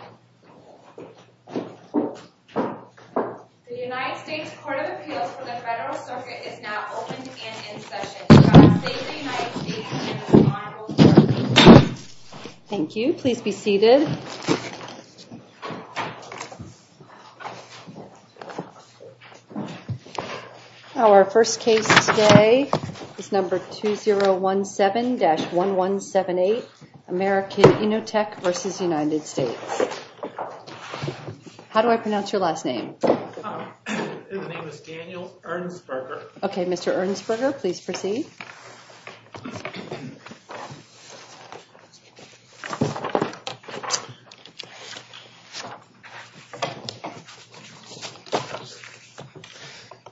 The United States Court of Appeals for the Federal Circuit is now open and in session. Thank you. Please be seated. Our first case today is number 2017-1178, American Innotek v. United States. How do I pronounce your last name? His name is Daniel Ernstberger. Okay, Mr. Ernstberger, please proceed.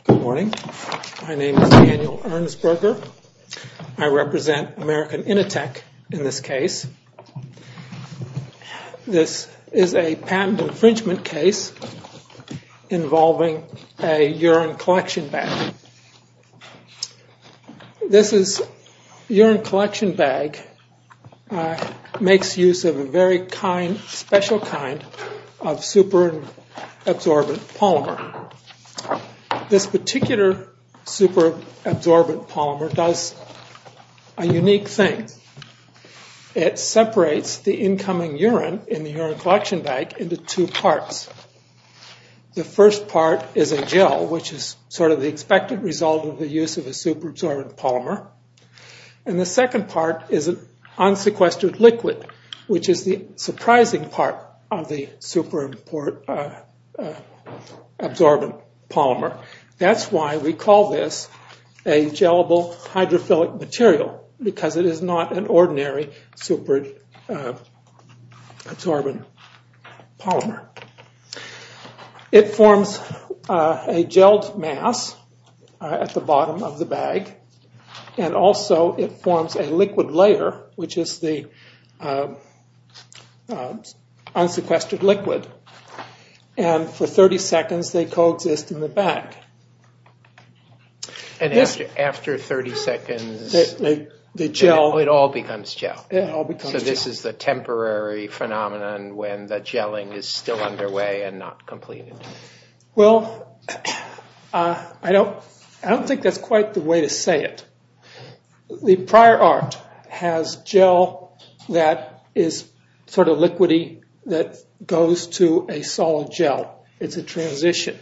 Good morning. My name is Daniel Ernstberger. I represent American Innotek in this case. This is a patent infringement case involving a urine collection bag. This urine collection bag makes use of a very special kind of superabsorbent polymer. This particular superabsorbent polymer does a unique thing. It separates the incoming urine in the urine collection bag into two parts. The first part is a gel, which is sort of the expected result of the use of a superabsorbent polymer. And the second part is an unsequestered liquid, which is the surprising part of the superabsorbent polymer. That's why we call this a gel-able hydrophilic material, because it is not an ordinary superabsorbent polymer. It forms a gelled mass at the bottom of the bag, and also it forms a liquid layer, which is the unsequestered liquid. And for 30 seconds, they coexist in the bag. And after 30 seconds, it all becomes gel. So this is the temporary phenomenon when the gelling is still underway and not completed? Well, I don't think that's quite the way to say it. The prior art has gel that is sort of liquidy that goes to a solid gel. It's a transition.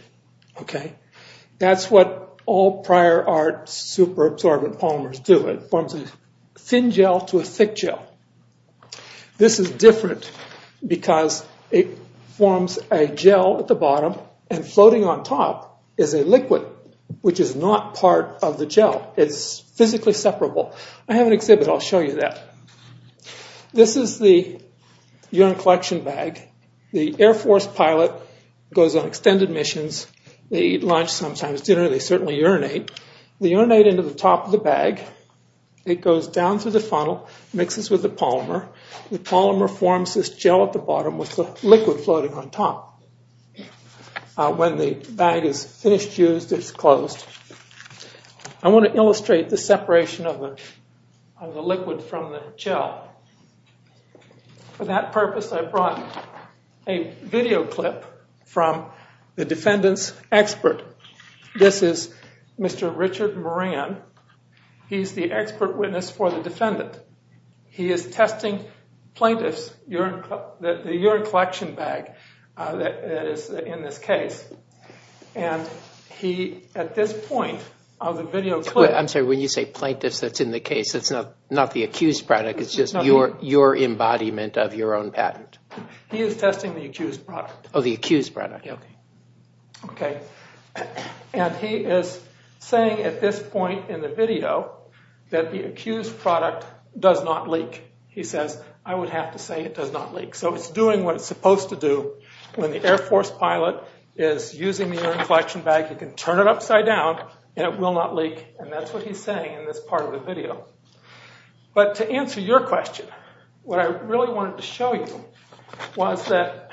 That's what all prior art superabsorbent polymers do. It forms a thin gel to a thick gel. This is different because it forms a gel at the bottom, and floating on top is a liquid, which is not part of the gel. It's physically separable. I have an exhibit. I'll show you that. This is the urine collection bag. The Air Force pilot goes on extended missions. They eat lunch, sometimes dinner. They certainly urinate. They urinate into the top of the bag. It goes down through the funnel, mixes with the polymer. The polymer forms this gel at the bottom with the liquid floating on top. When the bag is finished used, it's closed. I want to illustrate the separation of the liquid from the gel. For that purpose, I brought a video clip from the defendant's expert. This is Mr. Richard Moran. He's the expert witness for the defendant. He is testing plaintiffs' urine collection bag that is in this case. At this point of the video clip— I'm sorry. When you say plaintiffs, that's in the case. It's not the accused product. It's just your embodiment of your own patent. He is testing the accused product. Oh, the accused product. He is saying at this point in the video that the accused product does not leak. He says, I would have to say it does not leak. It's doing what it's supposed to do. When the Air Force pilot is using the urine collection bag, he can turn it upside down and it will not leak. That's what he's saying in this part of the video. To answer your question, what I really wanted to show you was that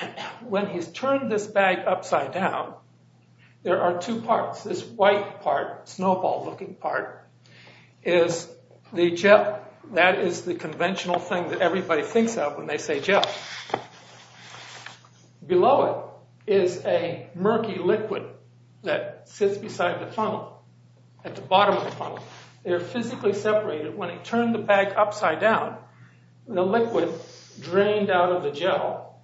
when he's turned this bag upside down, there are two parts. This white part, snowball-looking part, is the gel. That is the conventional thing that everybody thinks of when they say gel. Below it is a murky liquid that sits beside the funnel, at the bottom of the funnel. They are physically separated. When he turned the bag upside down, the liquid drained out of the gel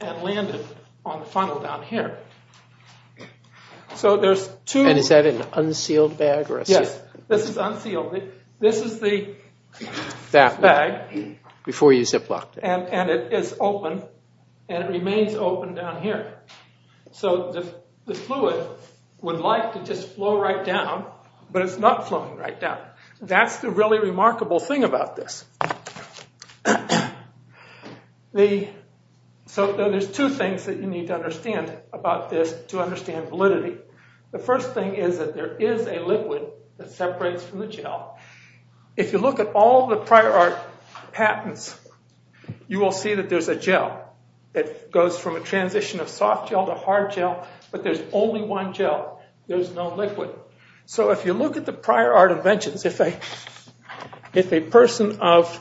and landed on the funnel down here. Is that an unsealed bag? Yes, this is unsealed. This is the bag, and it is open, and it remains open down here. The fluid would like to just flow right down, but it's not flowing right down. That's the really remarkable thing about this. There are two things that you need to understand about this to understand validity. The first thing is that there is a liquid that separates from the gel. If you look at all the prior art patents, you will see that there's a gel. It goes from a transition of soft gel to hard gel, but there's only one gel. There's no liquid. If you look at the prior art inventions, if a person of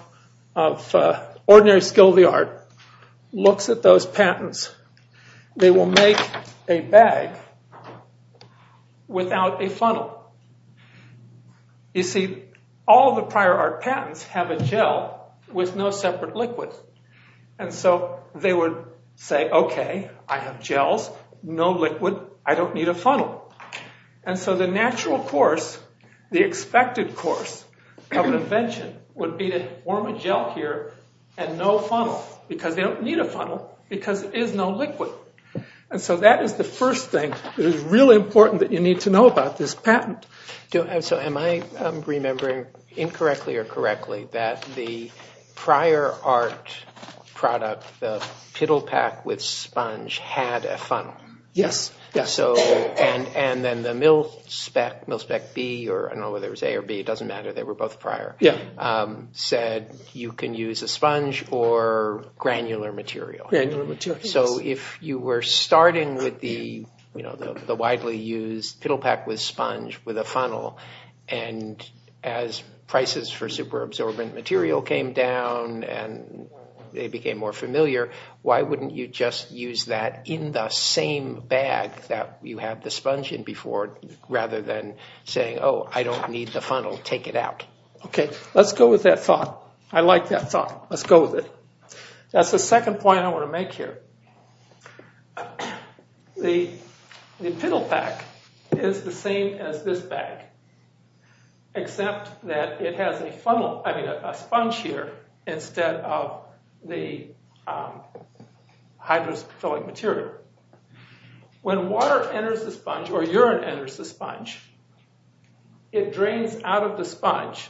ordinary skill of the art looks at those patents, they will make a bag without a funnel. You see, all the prior art patents have a gel with no separate liquid. They would say, okay, I have gels, no liquid, I don't need a funnel. The natural course, the expected course of an invention would be to form a gel here and no funnel because they don't need a funnel because there is no liquid. That is the first thing that is really important that you need to know about this patent. Am I remembering incorrectly or correctly that the prior art product, the pittle pack with sponge, had a funnel? Yes. Then the Mil-Spec B, I don't know whether it was A or B, it doesn't matter, they were both prior, said you can use a sponge or granular material. If you were starting with the widely used pittle pack with sponge with a funnel and as prices for super absorbent material came down and they became more familiar, why wouldn't you just use that in the same bag that you had the sponge in before rather than saying, oh, I don't need the funnel, take it out. Okay, let's go with that thought. I like that thought. Let's go with it. That's the second point I want to make here. The pittle pack is the same as this bag except that it has a sponge here instead of the hydrophilic material. When water enters the sponge or urine enters the sponge, it drains out of the sponge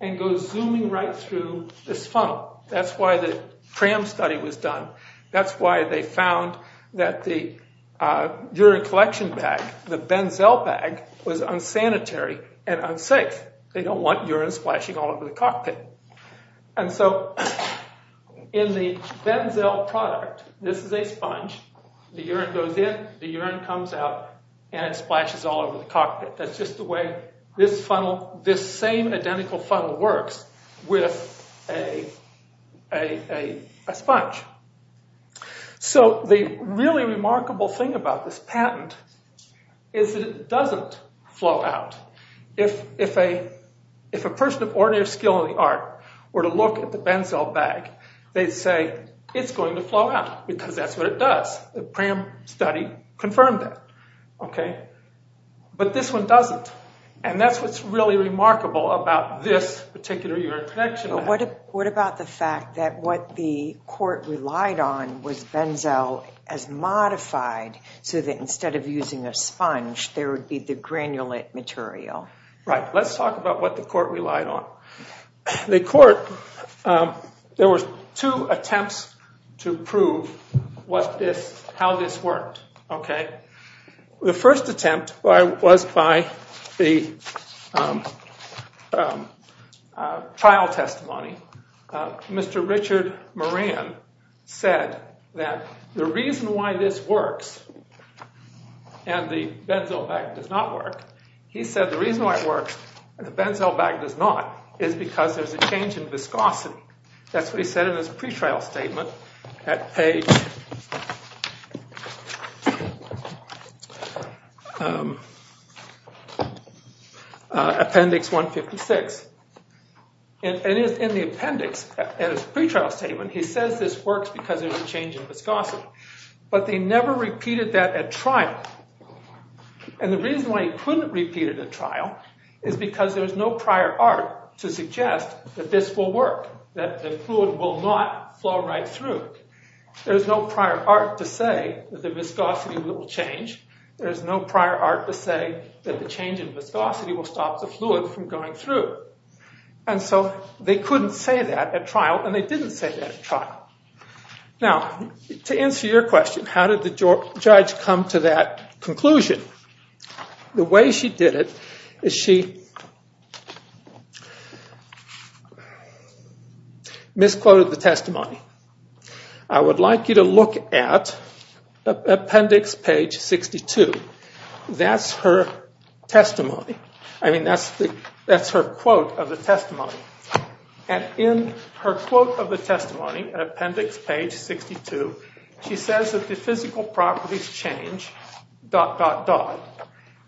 and goes zooming right through this funnel. That's why the CRAM study was done. That's why they found that the urine collection bag, the Benzel bag, was unsanitary and unsafe. They don't want urine splashing all over the cockpit. In the Benzel product, this is a sponge. The urine goes in, the urine comes out, and it splashes all over the cockpit. That's just the way this same identical funnel works with a sponge. The really remarkable thing about this patent is that it doesn't flow out. If a person of ordinary skill in the art were to look at the Benzel bag, they'd say it's going to flow out because that's what it does. The CRAM study confirmed that. But this one doesn't. That's what's really remarkable about this particular urine collection bag. What about the fact that what the court relied on was Benzel as modified so that instead of using a sponge, there would be the granulate material? Let's talk about what the court relied on. There were two attempts to prove how this worked. The first attempt was by the trial testimony. Mr. Richard Moran said that the reason why this works and the Benzel bag does not work is because there's a change in viscosity. That's what he said in his pretrial statement at page appendix 156. In the appendix, in his pretrial statement, he says this works because there's a change in viscosity. But they never repeated that at trial. And the reason why he couldn't repeat it at trial is because there's no prior art to suggest that this will work, that the fluid will not flow right through. There's no prior art to say that the viscosity will change. There's no prior art to say that the change in viscosity will stop the fluid from going through. And so they couldn't say that at trial, and they didn't say that at trial. Now, to answer your question, how did the judge come to that conclusion? The way she did it is she misquoted the testimony. I would like you to look at appendix page 62. That's her testimony. I mean, that's her quote of the testimony. And in her quote of the testimony, appendix page 62, she says that the physical properties change, dot, dot, dot,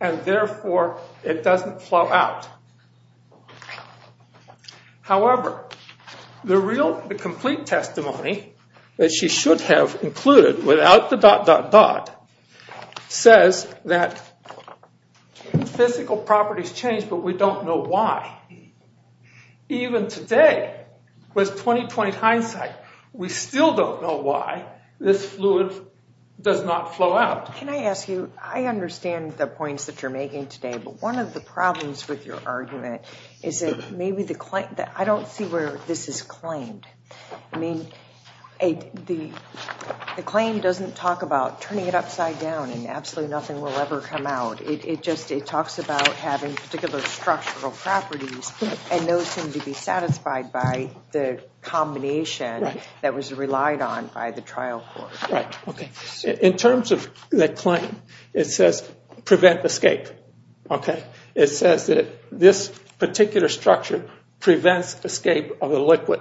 and therefore it doesn't flow out. However, the complete testimony that she should have included without the dot, dot, dot, says that physical properties change, but we don't know why. Even today, with 20-20 hindsight, we still don't know why this fluid does not flow out. Can I ask you, I understand the points that you're making today, but one of the problems with your argument is that maybe the claim that I don't see where this is claimed. I mean, the claim doesn't talk about turning it upside down and absolutely nothing will ever come out. It just talks about having particular structural properties and those seem to be satisfied by the combination that was relied on by the trial court. Right, OK. In terms of the claim, it says prevent escape. It says that this particular structure prevents escape of the liquid.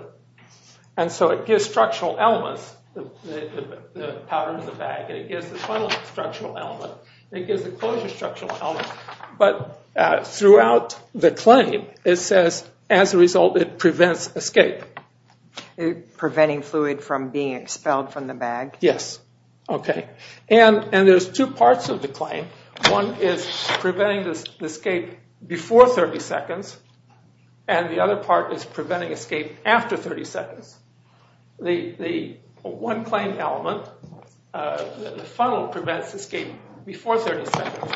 And so it gives structural elements, the powder in the bag, and it gives the funnel a structural element, and it gives the closure a structural element. But throughout the claim, it says as a result it prevents escape. Preventing fluid from being expelled from the bag? Yes. OK. And there's two parts of the claim. One is preventing the escape before 30 seconds, and the other part is preventing escape after 30 seconds. The one claim element, the funnel prevents escape before 30 seconds.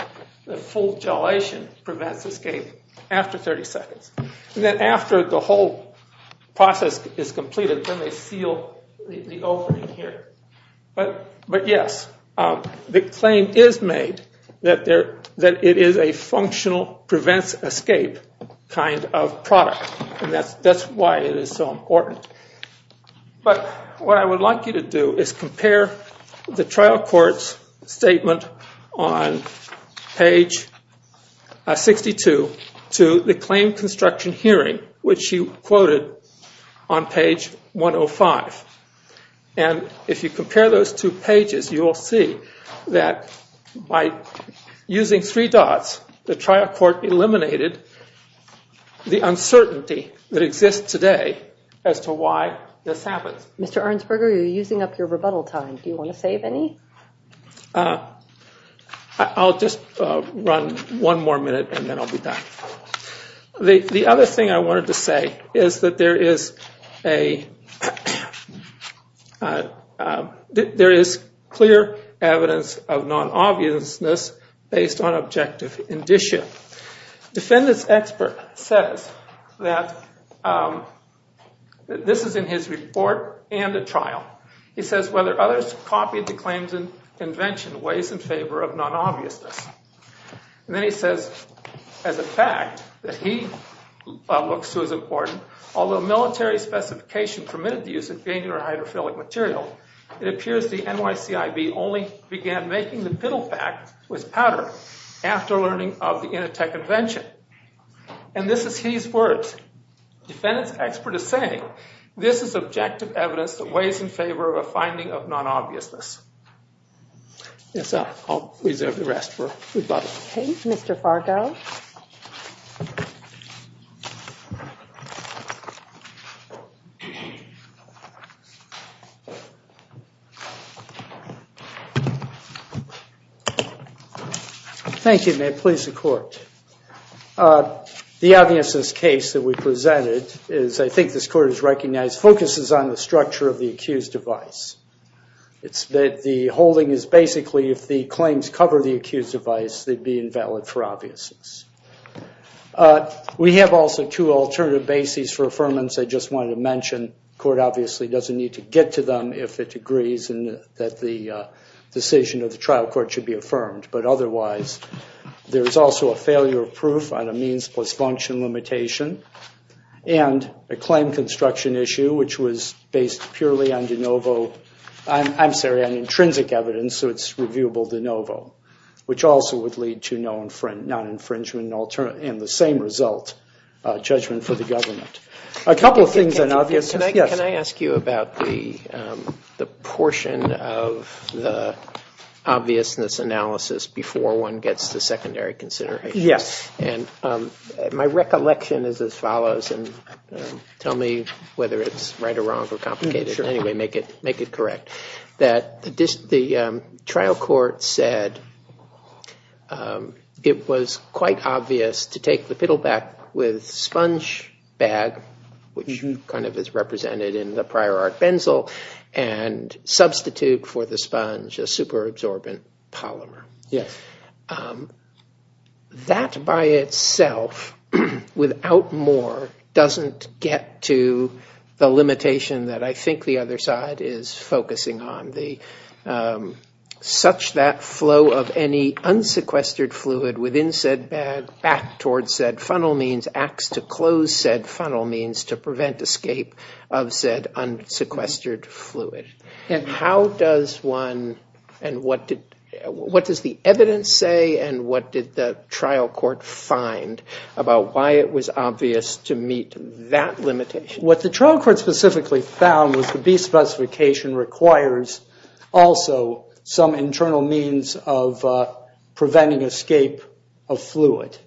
The full gelation prevents escape after 30 seconds. And then after the whole process is completed, then they seal the opening here. But yes, the claim is made that it is a functional prevents escape kind of product, and that's why it is so important. But what I would like you to do is compare the trial court's statement on page 62 to the claim construction hearing, which you quoted on page 105. And if you compare those two pages, you will see that by using three dots, the trial court eliminated the uncertainty that exists today as to why this happens. Mr. Arnsberger, you're using up your rebuttal time. Do you want to save any? I'll just run one more minute, and then I'll be done. The other thing I wanted to say is that there is clear evidence of non-obviousness based on objective indicia. Defendant's expert says that this is in his report and the trial. He says, whether others copied the claims and invention weighs in favor of non-obviousness. And then he says, as a fact, that he looks to as important, although military specification permitted the use of granular hydrophilic material, it appears the NYCIB only began making the pittle fact with powder after learning of the Initech invention. And this is his words. Defendant's expert is saying, this is objective evidence that weighs in favor of a finding of non-obviousness. Yes, I'll reserve the rest for rebuttal. Mr. Fargo. Thank you, and may it please the Court. The obviousness case that we presented is, I think this Court has recognized, focuses on the structure of the accused device. It's that the holding is basically, if the claims cover the accused device, they'd be invalid for obviousness. We have also two alternative bases for affirmance I just wanted to mention. The Court obviously doesn't need to get to them if it agrees that the decision of the trial court should be affirmed. But otherwise, there's also a failure of proof on a means plus function limitation, and a claim construction issue which was based purely on de novo. I'm sorry, on intrinsic evidence, so it's reviewable de novo, which also would lead to non-infringement and the same result, judgment for the government. A couple of things on obviousness. Can I ask you about the portion of the obviousness analysis before one gets to secondary considerations? Yes. And my recollection is as follows, and tell me whether it's right or wrong or complicated. Sure. Anyway, make it correct. The trial court said it was quite obvious to take the Piddleback with sponge bag, which kind of is represented in the prior art Benzel, and substitute for the sponge a super-absorbent polymer. Yes. That by itself, without more, doesn't get to the limitation that I think the other side is focusing on. Such that flow of any unsequestered fluid within said bag back towards said funnel means acts to close said funnel means to prevent escape of said unsequestered fluid. And how does one, and what does the evidence say, and what did the trial court find about why it was obvious to meet that limitation? What the trial court specifically found was the B specification requires also some internal means of preventing escape of fluid.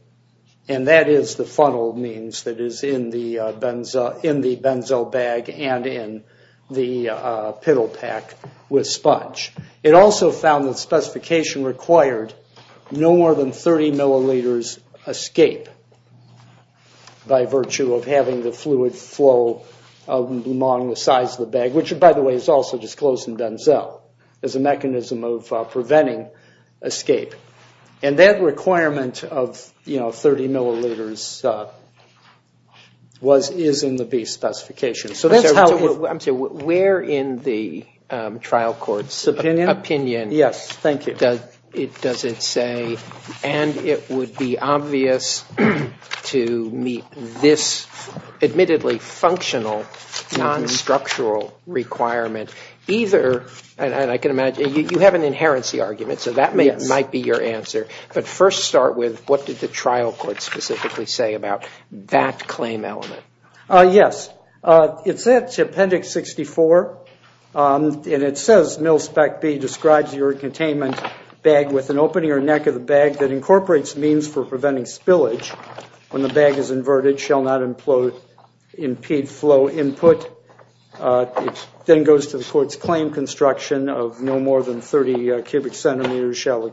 And that is the funnel means that is in the Benzel bag and in the Piddlepack with sponge. It also found that specification required no more than 30 milliliters escape by virtue of having the fluid flow among the sides of the bag, which by the way is also disclosed in Benzel as a mechanism of preventing escape. And that requirement of, you know, 30 milliliters is in the B specification. I'm sorry, where in the trial court's opinion does it say, and it would be obvious to meet this admittedly functional, non-structural requirement, and I can imagine you have an inherency argument, so that might be your answer. But first start with what did the trial court specifically say about that claim element? Yes. It said to Appendix 64, and it says, Mill Spec B describes your containment bag with an opening or neck of the bag that incorporates means for preventing spillage. When the bag is inverted, it shall not impede flow input. It then goes to the court's claim construction of no more than 30 cubic centimeters shall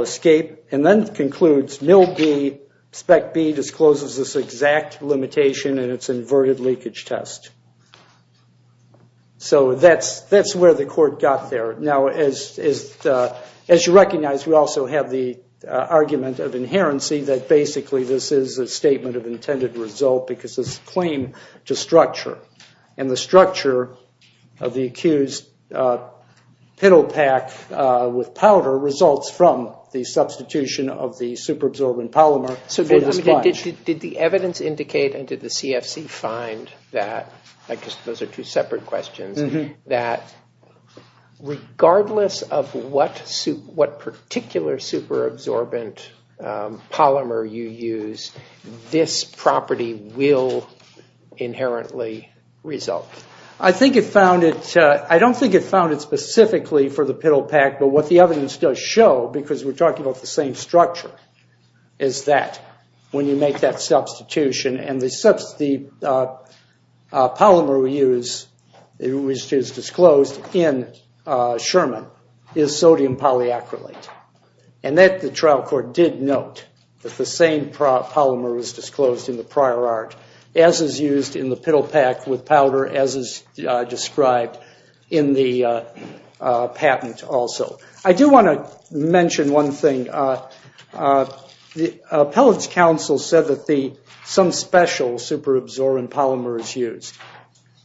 escape. And then it concludes, Mill B, Spec B discloses this exact limitation in its inverted leakage test. So that's where the court got there. Now, as you recognize, we also have the argument of inherency that basically this is a statement of intended result because it's a claim to structure. And the structure of the accused pittle pack with powder results from the substitution of the superabsorbent polymer for the sponge. Did the evidence indicate, and did the CFC find that, I guess those are two separate questions, that regardless of what particular superabsorbent polymer you use, this property will inherently result? I think it found it. I don't think it found it specifically for the pittle pack. But what the evidence does show, because we're talking about the same structure, is that when you make that substitution, and the polymer we use, which is disclosed in Sherman, is sodium polyacrylate. And the trial court did note that the same polymer was disclosed in the prior art, as is used in the pittle pack with powder, as is described in the patent also. I do want to mention one thing. The appellate's counsel said that some special superabsorbent polymer is used.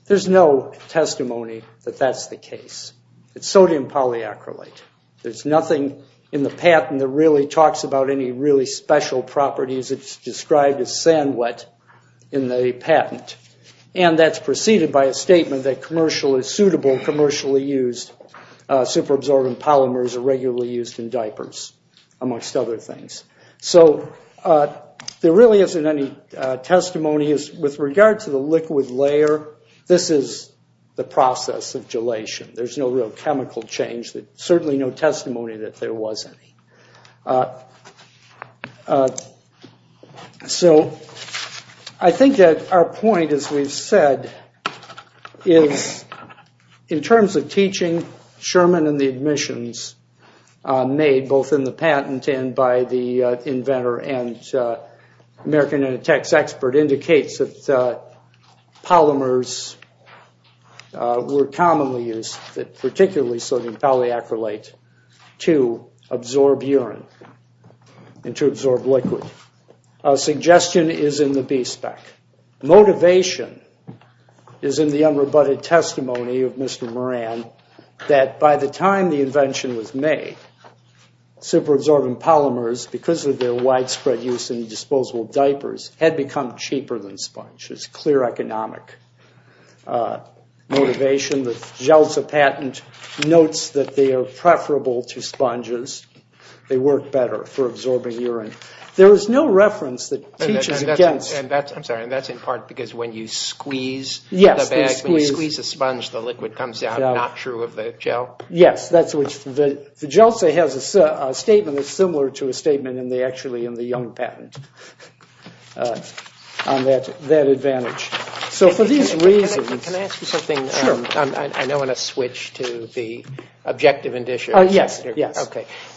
There's no testimony that that's the case. It's sodium polyacrylate. There's nothing in the patent that really talks about any really special properties. And that's preceded by a statement that commercial is suitable, commercially used superabsorbent polymers are regularly used in diapers, amongst other things. So there really isn't any testimony. With regard to the liquid layer, this is the process of gelation. There's no real chemical change. There's certainly no testimony that there was any. So I think that our point, as we've said, is in terms of teaching, Sherman and the admissions made, both in the patent and by the inventor and American Intertext expert, that indicates that polymers were commonly used, particularly sodium polyacrylate, to absorb urine and to absorb liquid. Suggestion is in the B-spec. Motivation is in the unrebutted testimony of Mr. Moran that by the time the invention was made, superabsorbent polymers, because of their widespread use in disposable diapers, had become cheaper than sponge. It's clear economic motivation. The Gelsa patent notes that they are preferable to sponges. They work better for absorbing urine. There is no reference that teaches against- And that's in part because when you squeeze the bag, when you squeeze a sponge, the liquid comes out. Not true of the gel? Yes. The Gelsa has a statement that's similar to a statement in the Young patent on that advantage. So for these reasons- Can I ask you something? Sure. I know I'm going to switch to the objective indicia. Yes.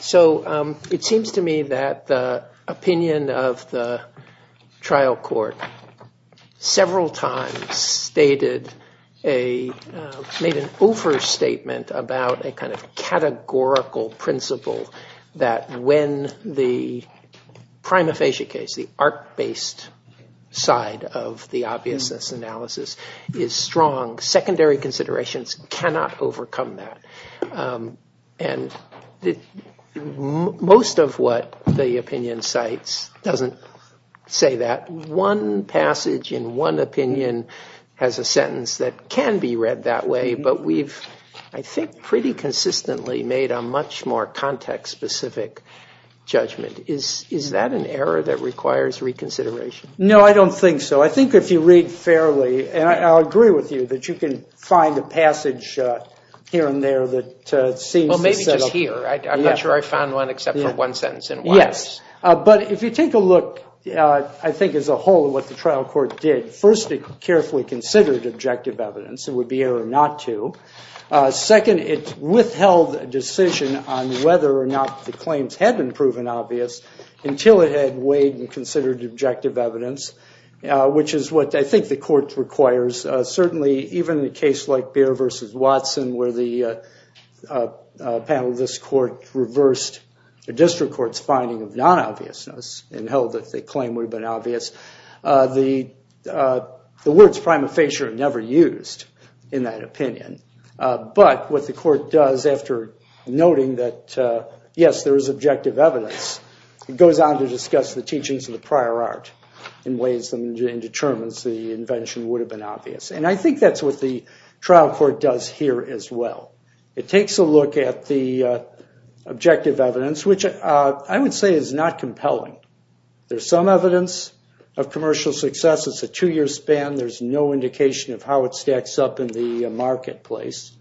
So it seems to me that the opinion of the trial court several times made an overstatement about a kind of categorical principle that when the prima facie case, the arc-based side of the obviousness analysis is strong, secondary considerations cannot overcome that. And most of what the opinion cites doesn't say that. One passage in one opinion has a sentence that can be read that way, but we've, I think, pretty consistently made a much more context-specific judgment. Is that an error that requires reconsideration? No, I don't think so. I think if you read fairly, and I'll agree with you that you can find a passage here and there that seems to set up- Well, maybe just here. I'm not sure I found one except for one sentence in one. Yes. But if you take a look, I think, as a whole at what the trial court did, first it carefully considered objective evidence, it would be error not to. Second, it withheld a decision on whether or not the claims had been proven obvious until it had weighed and considered objective evidence, which is what I think the court requires. Certainly, even in a case like Behr v. Watson, where the panel of this court reversed the district court's finding of non-obviousness and held that the claim would have been obvious, the words prima facie are never used in that opinion. But what the court does after noting that, yes, there is objective evidence, it goes on to discuss the teachings of the prior art in ways and determines the invention would have been obvious. And I think that's what the trial court does here as well. It takes a look at the objective evidence, which I would say is not compelling. There's some evidence of commercial success. It's a two-year span. There's no indication of how it stacks up in the marketplace.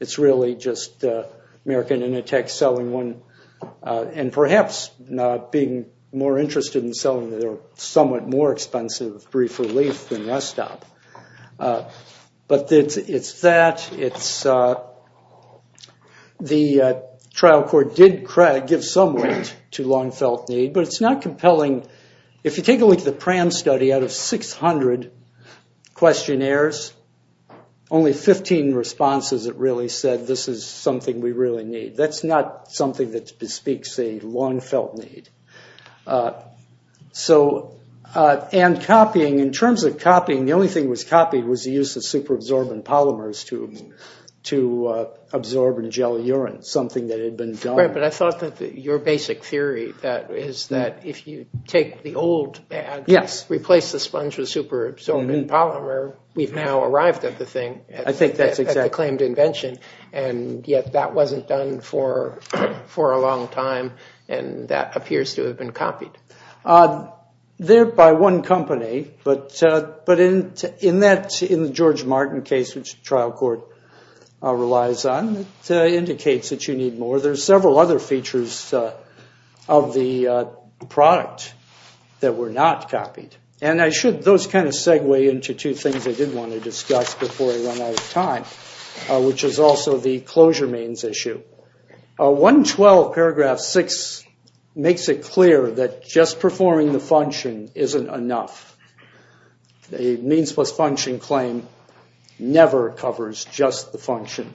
It's really just American Intertech selling one and perhaps being more interested in selling their somewhat more expensive brief relief than Restop. But it's that. The trial court did give some weight to long-felt need, but it's not compelling. If you take a look at the PRAM study, out of 600 questionnaires, only 15 responses that really said, this is something we really need. That's not something that bespeaks a long-felt need. And copying, in terms of copying, the only thing that was copied was the use of super-absorbent polymers to absorb and gel urine, something that had been done. Right, but I thought that your basic theory is that if you take the old ad, replace the sponge with super-absorbent polymer, we've now arrived at the thing, at the claimed invention, and yet that wasn't done for a long time, and that appears to have been copied. They're by one company, but in the George Martin case, which the trial court relies on, it indicates that you need more. There are several other features of the product that were not copied. And those kind of segue into two things I did want to discuss before I run out of time, which is also the closure means issue. 112, paragraph 6, makes it clear that just performing the function isn't enough. A means-plus-function claim never covers just the function.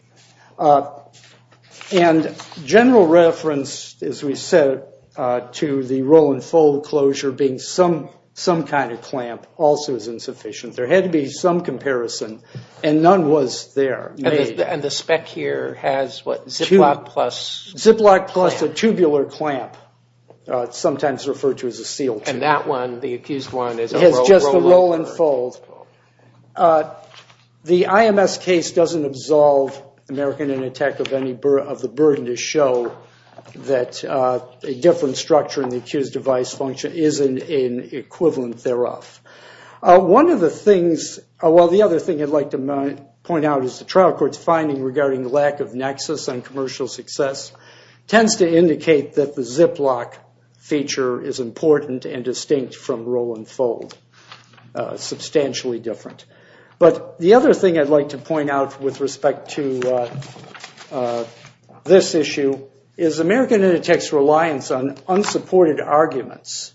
And general reference, as we said, to the roll-and-fold closure being some kind of clamp also is insufficient. There had to be some comparison, and none was there. And the spec here has what, ziplock plus clamp? Ziplock plus a tubular clamp, sometimes referred to as a seal tube. And that one, the accused one, is a roll-and-fold. It has just the roll-and-fold. The IMS case doesn't absolve American in attack of the burden to show that a different structure in the accused device function isn't an equivalent thereof. One of the things – well, the other thing I'd like to point out is the trial court's finding regarding the lack of nexus on commercial success tends to indicate that the ziplock feature is important and distinct from roll-and-fold, substantially different. But the other thing I'd like to point out with respect to this issue is American in attack's reliance on unsupported arguments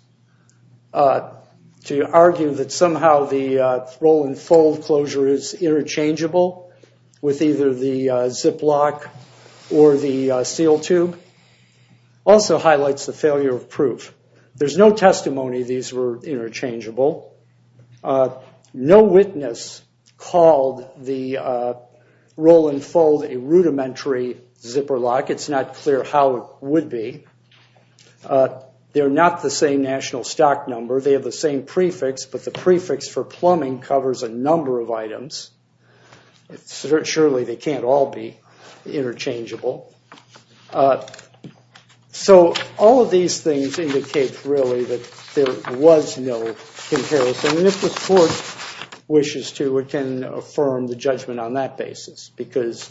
to argue that somehow the roll-and-fold closure is interchangeable with either the ziplock or the seal tube also highlights the failure of proof. There's no testimony these were interchangeable. No witness called the roll-and-fold a rudimentary zipper lock. It's not clear how it would be. They're not the same national stock number. They have the same prefix, but the prefix for plumbing covers a number of items. Surely they can't all be interchangeable. So all of these things indicate really that there was no comparison. And if the court wishes to, it can affirm the judgment on that basis because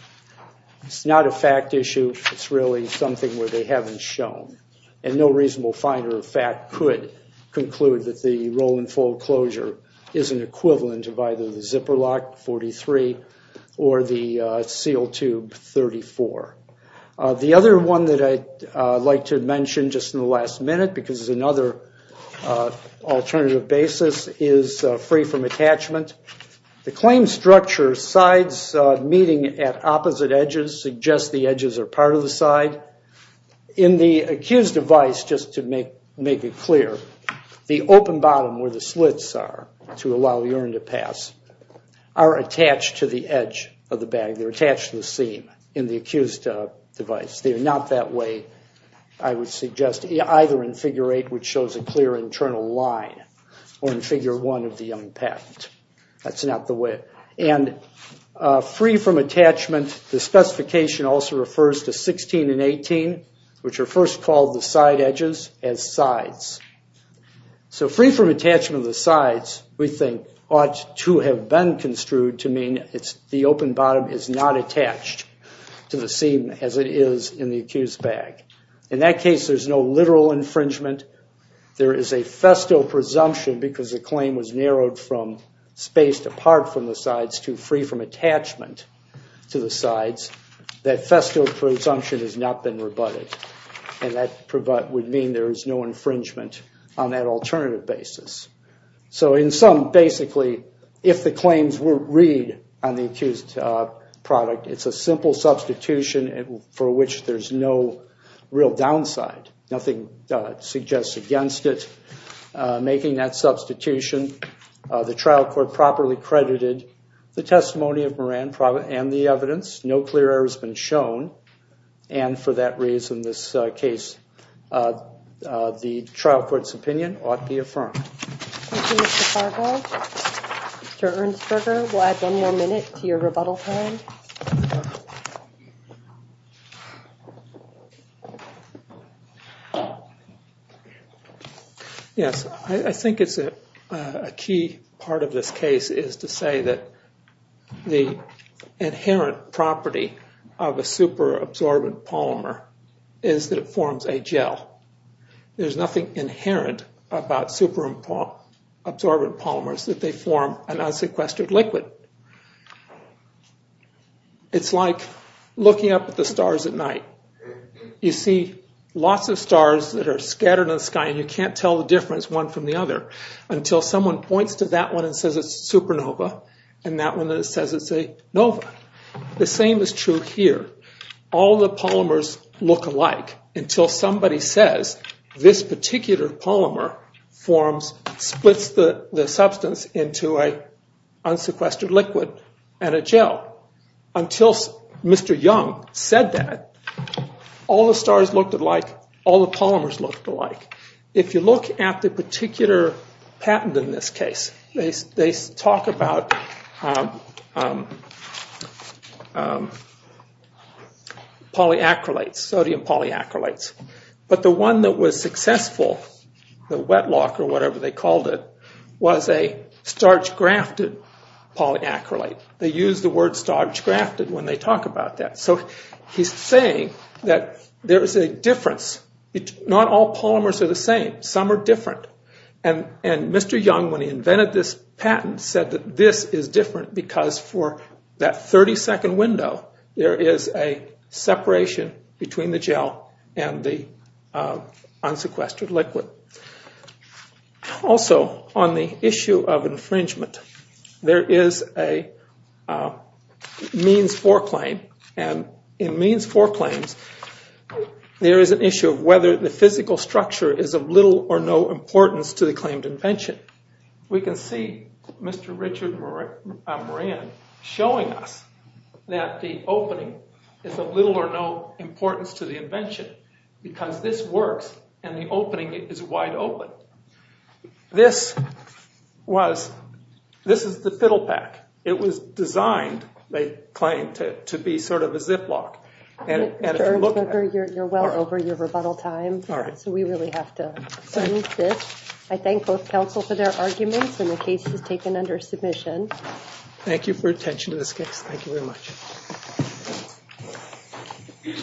it's not a fact issue. It's really something where they haven't shown. And no reasonable finder of fact could conclude that the roll-and-fold closure is an equivalent of either the zipper lock 43 or the seal tube 34. The other one that I'd like to mention just in the last minute because it's another alternative basis is free-from-attachment. The claim structure sides meeting at opposite edges suggests the edges are part of the side. In the accused's advice, just to make it clear, the open bottom where the slits are to allow urine to pass are attached to the edge of the bag. They're attached to the seam in the accused's advice. They're not that way, I would suggest, either in Figure 8, which shows a clear internal line, or in Figure 1 of the young patent. That's not the way. And free-from-attachment, the specification also refers to 16 and 18, which are first called the side edges, as sides. So free-from-attachment of the sides, we think, ought to have been construed to mean the open bottom is not attached to the seam as it is in the accused's bag. In that case, there's no literal infringement. There is a festal presumption because the claim was narrowed from space apart from the sides to free-from-attachment to the sides. That festal presumption has not been rebutted. And that would mean there is no infringement on that alternative basis. So in sum, basically, if the claims read on the accused product, it's a simple substitution for which there's no real downside. Nothing suggests against it making that substitution. The trial court properly credited the testimony of Moran and the evidence. No clear error has been shown. And for that reason, this case, the trial court's opinion ought to be affirmed. Thank you, Mr. Fargo. Mr. Ernstberger, we'll add one more minute to your rebuttal time. Yes, I think a key part of this case is to say that the inherent property of a superabsorbent polymer is that it forms a gel. There's nothing inherent about superabsorbent polymers that they form an unsequestered liquid. It's like looking up at the stars at night. You see lots of stars that are scattered in the sky and you can't tell the difference one from the other until someone points to that one and says it's a supernova and that one says it's a nova. The same is true here. All the polymers look alike until somebody says this particular polymer forms, splits the substance into an unsequestered liquid and a gel. Until Mr. Young said that, all the stars looked alike, all the polymers looked alike. If you look at the particular patent in this case, they talk about polyacrylates, sodium polyacrylates. But the one that was successful, the Wetlock or whatever they called it, was a starch-grafted polyacrylate. They use the word starch-grafted when they talk about that. So he's saying that there's a difference. Not all polymers are the same. Some are different. Mr. Young, when he invented this patent, said that this is different because for that 30-second window, there is a separation between the gel and the unsequestered liquid. Also, on the issue of infringement, there is a means for claim. In means for claims, there is an issue of whether the physical structure is of little or no importance to the claimed invention. We can see Mr. Richard Moran showing us that the opening is of little or no importance to the invention because this works and the opening is wide open. This is the fiddle pack. It was designed, they claim, to be sort of a ziplock. You're well over your rebuttal time, so we really have to move this. I thank both counsel for their arguments and the case is taken under submission. Thank you for your attention to this case. Thank you very much.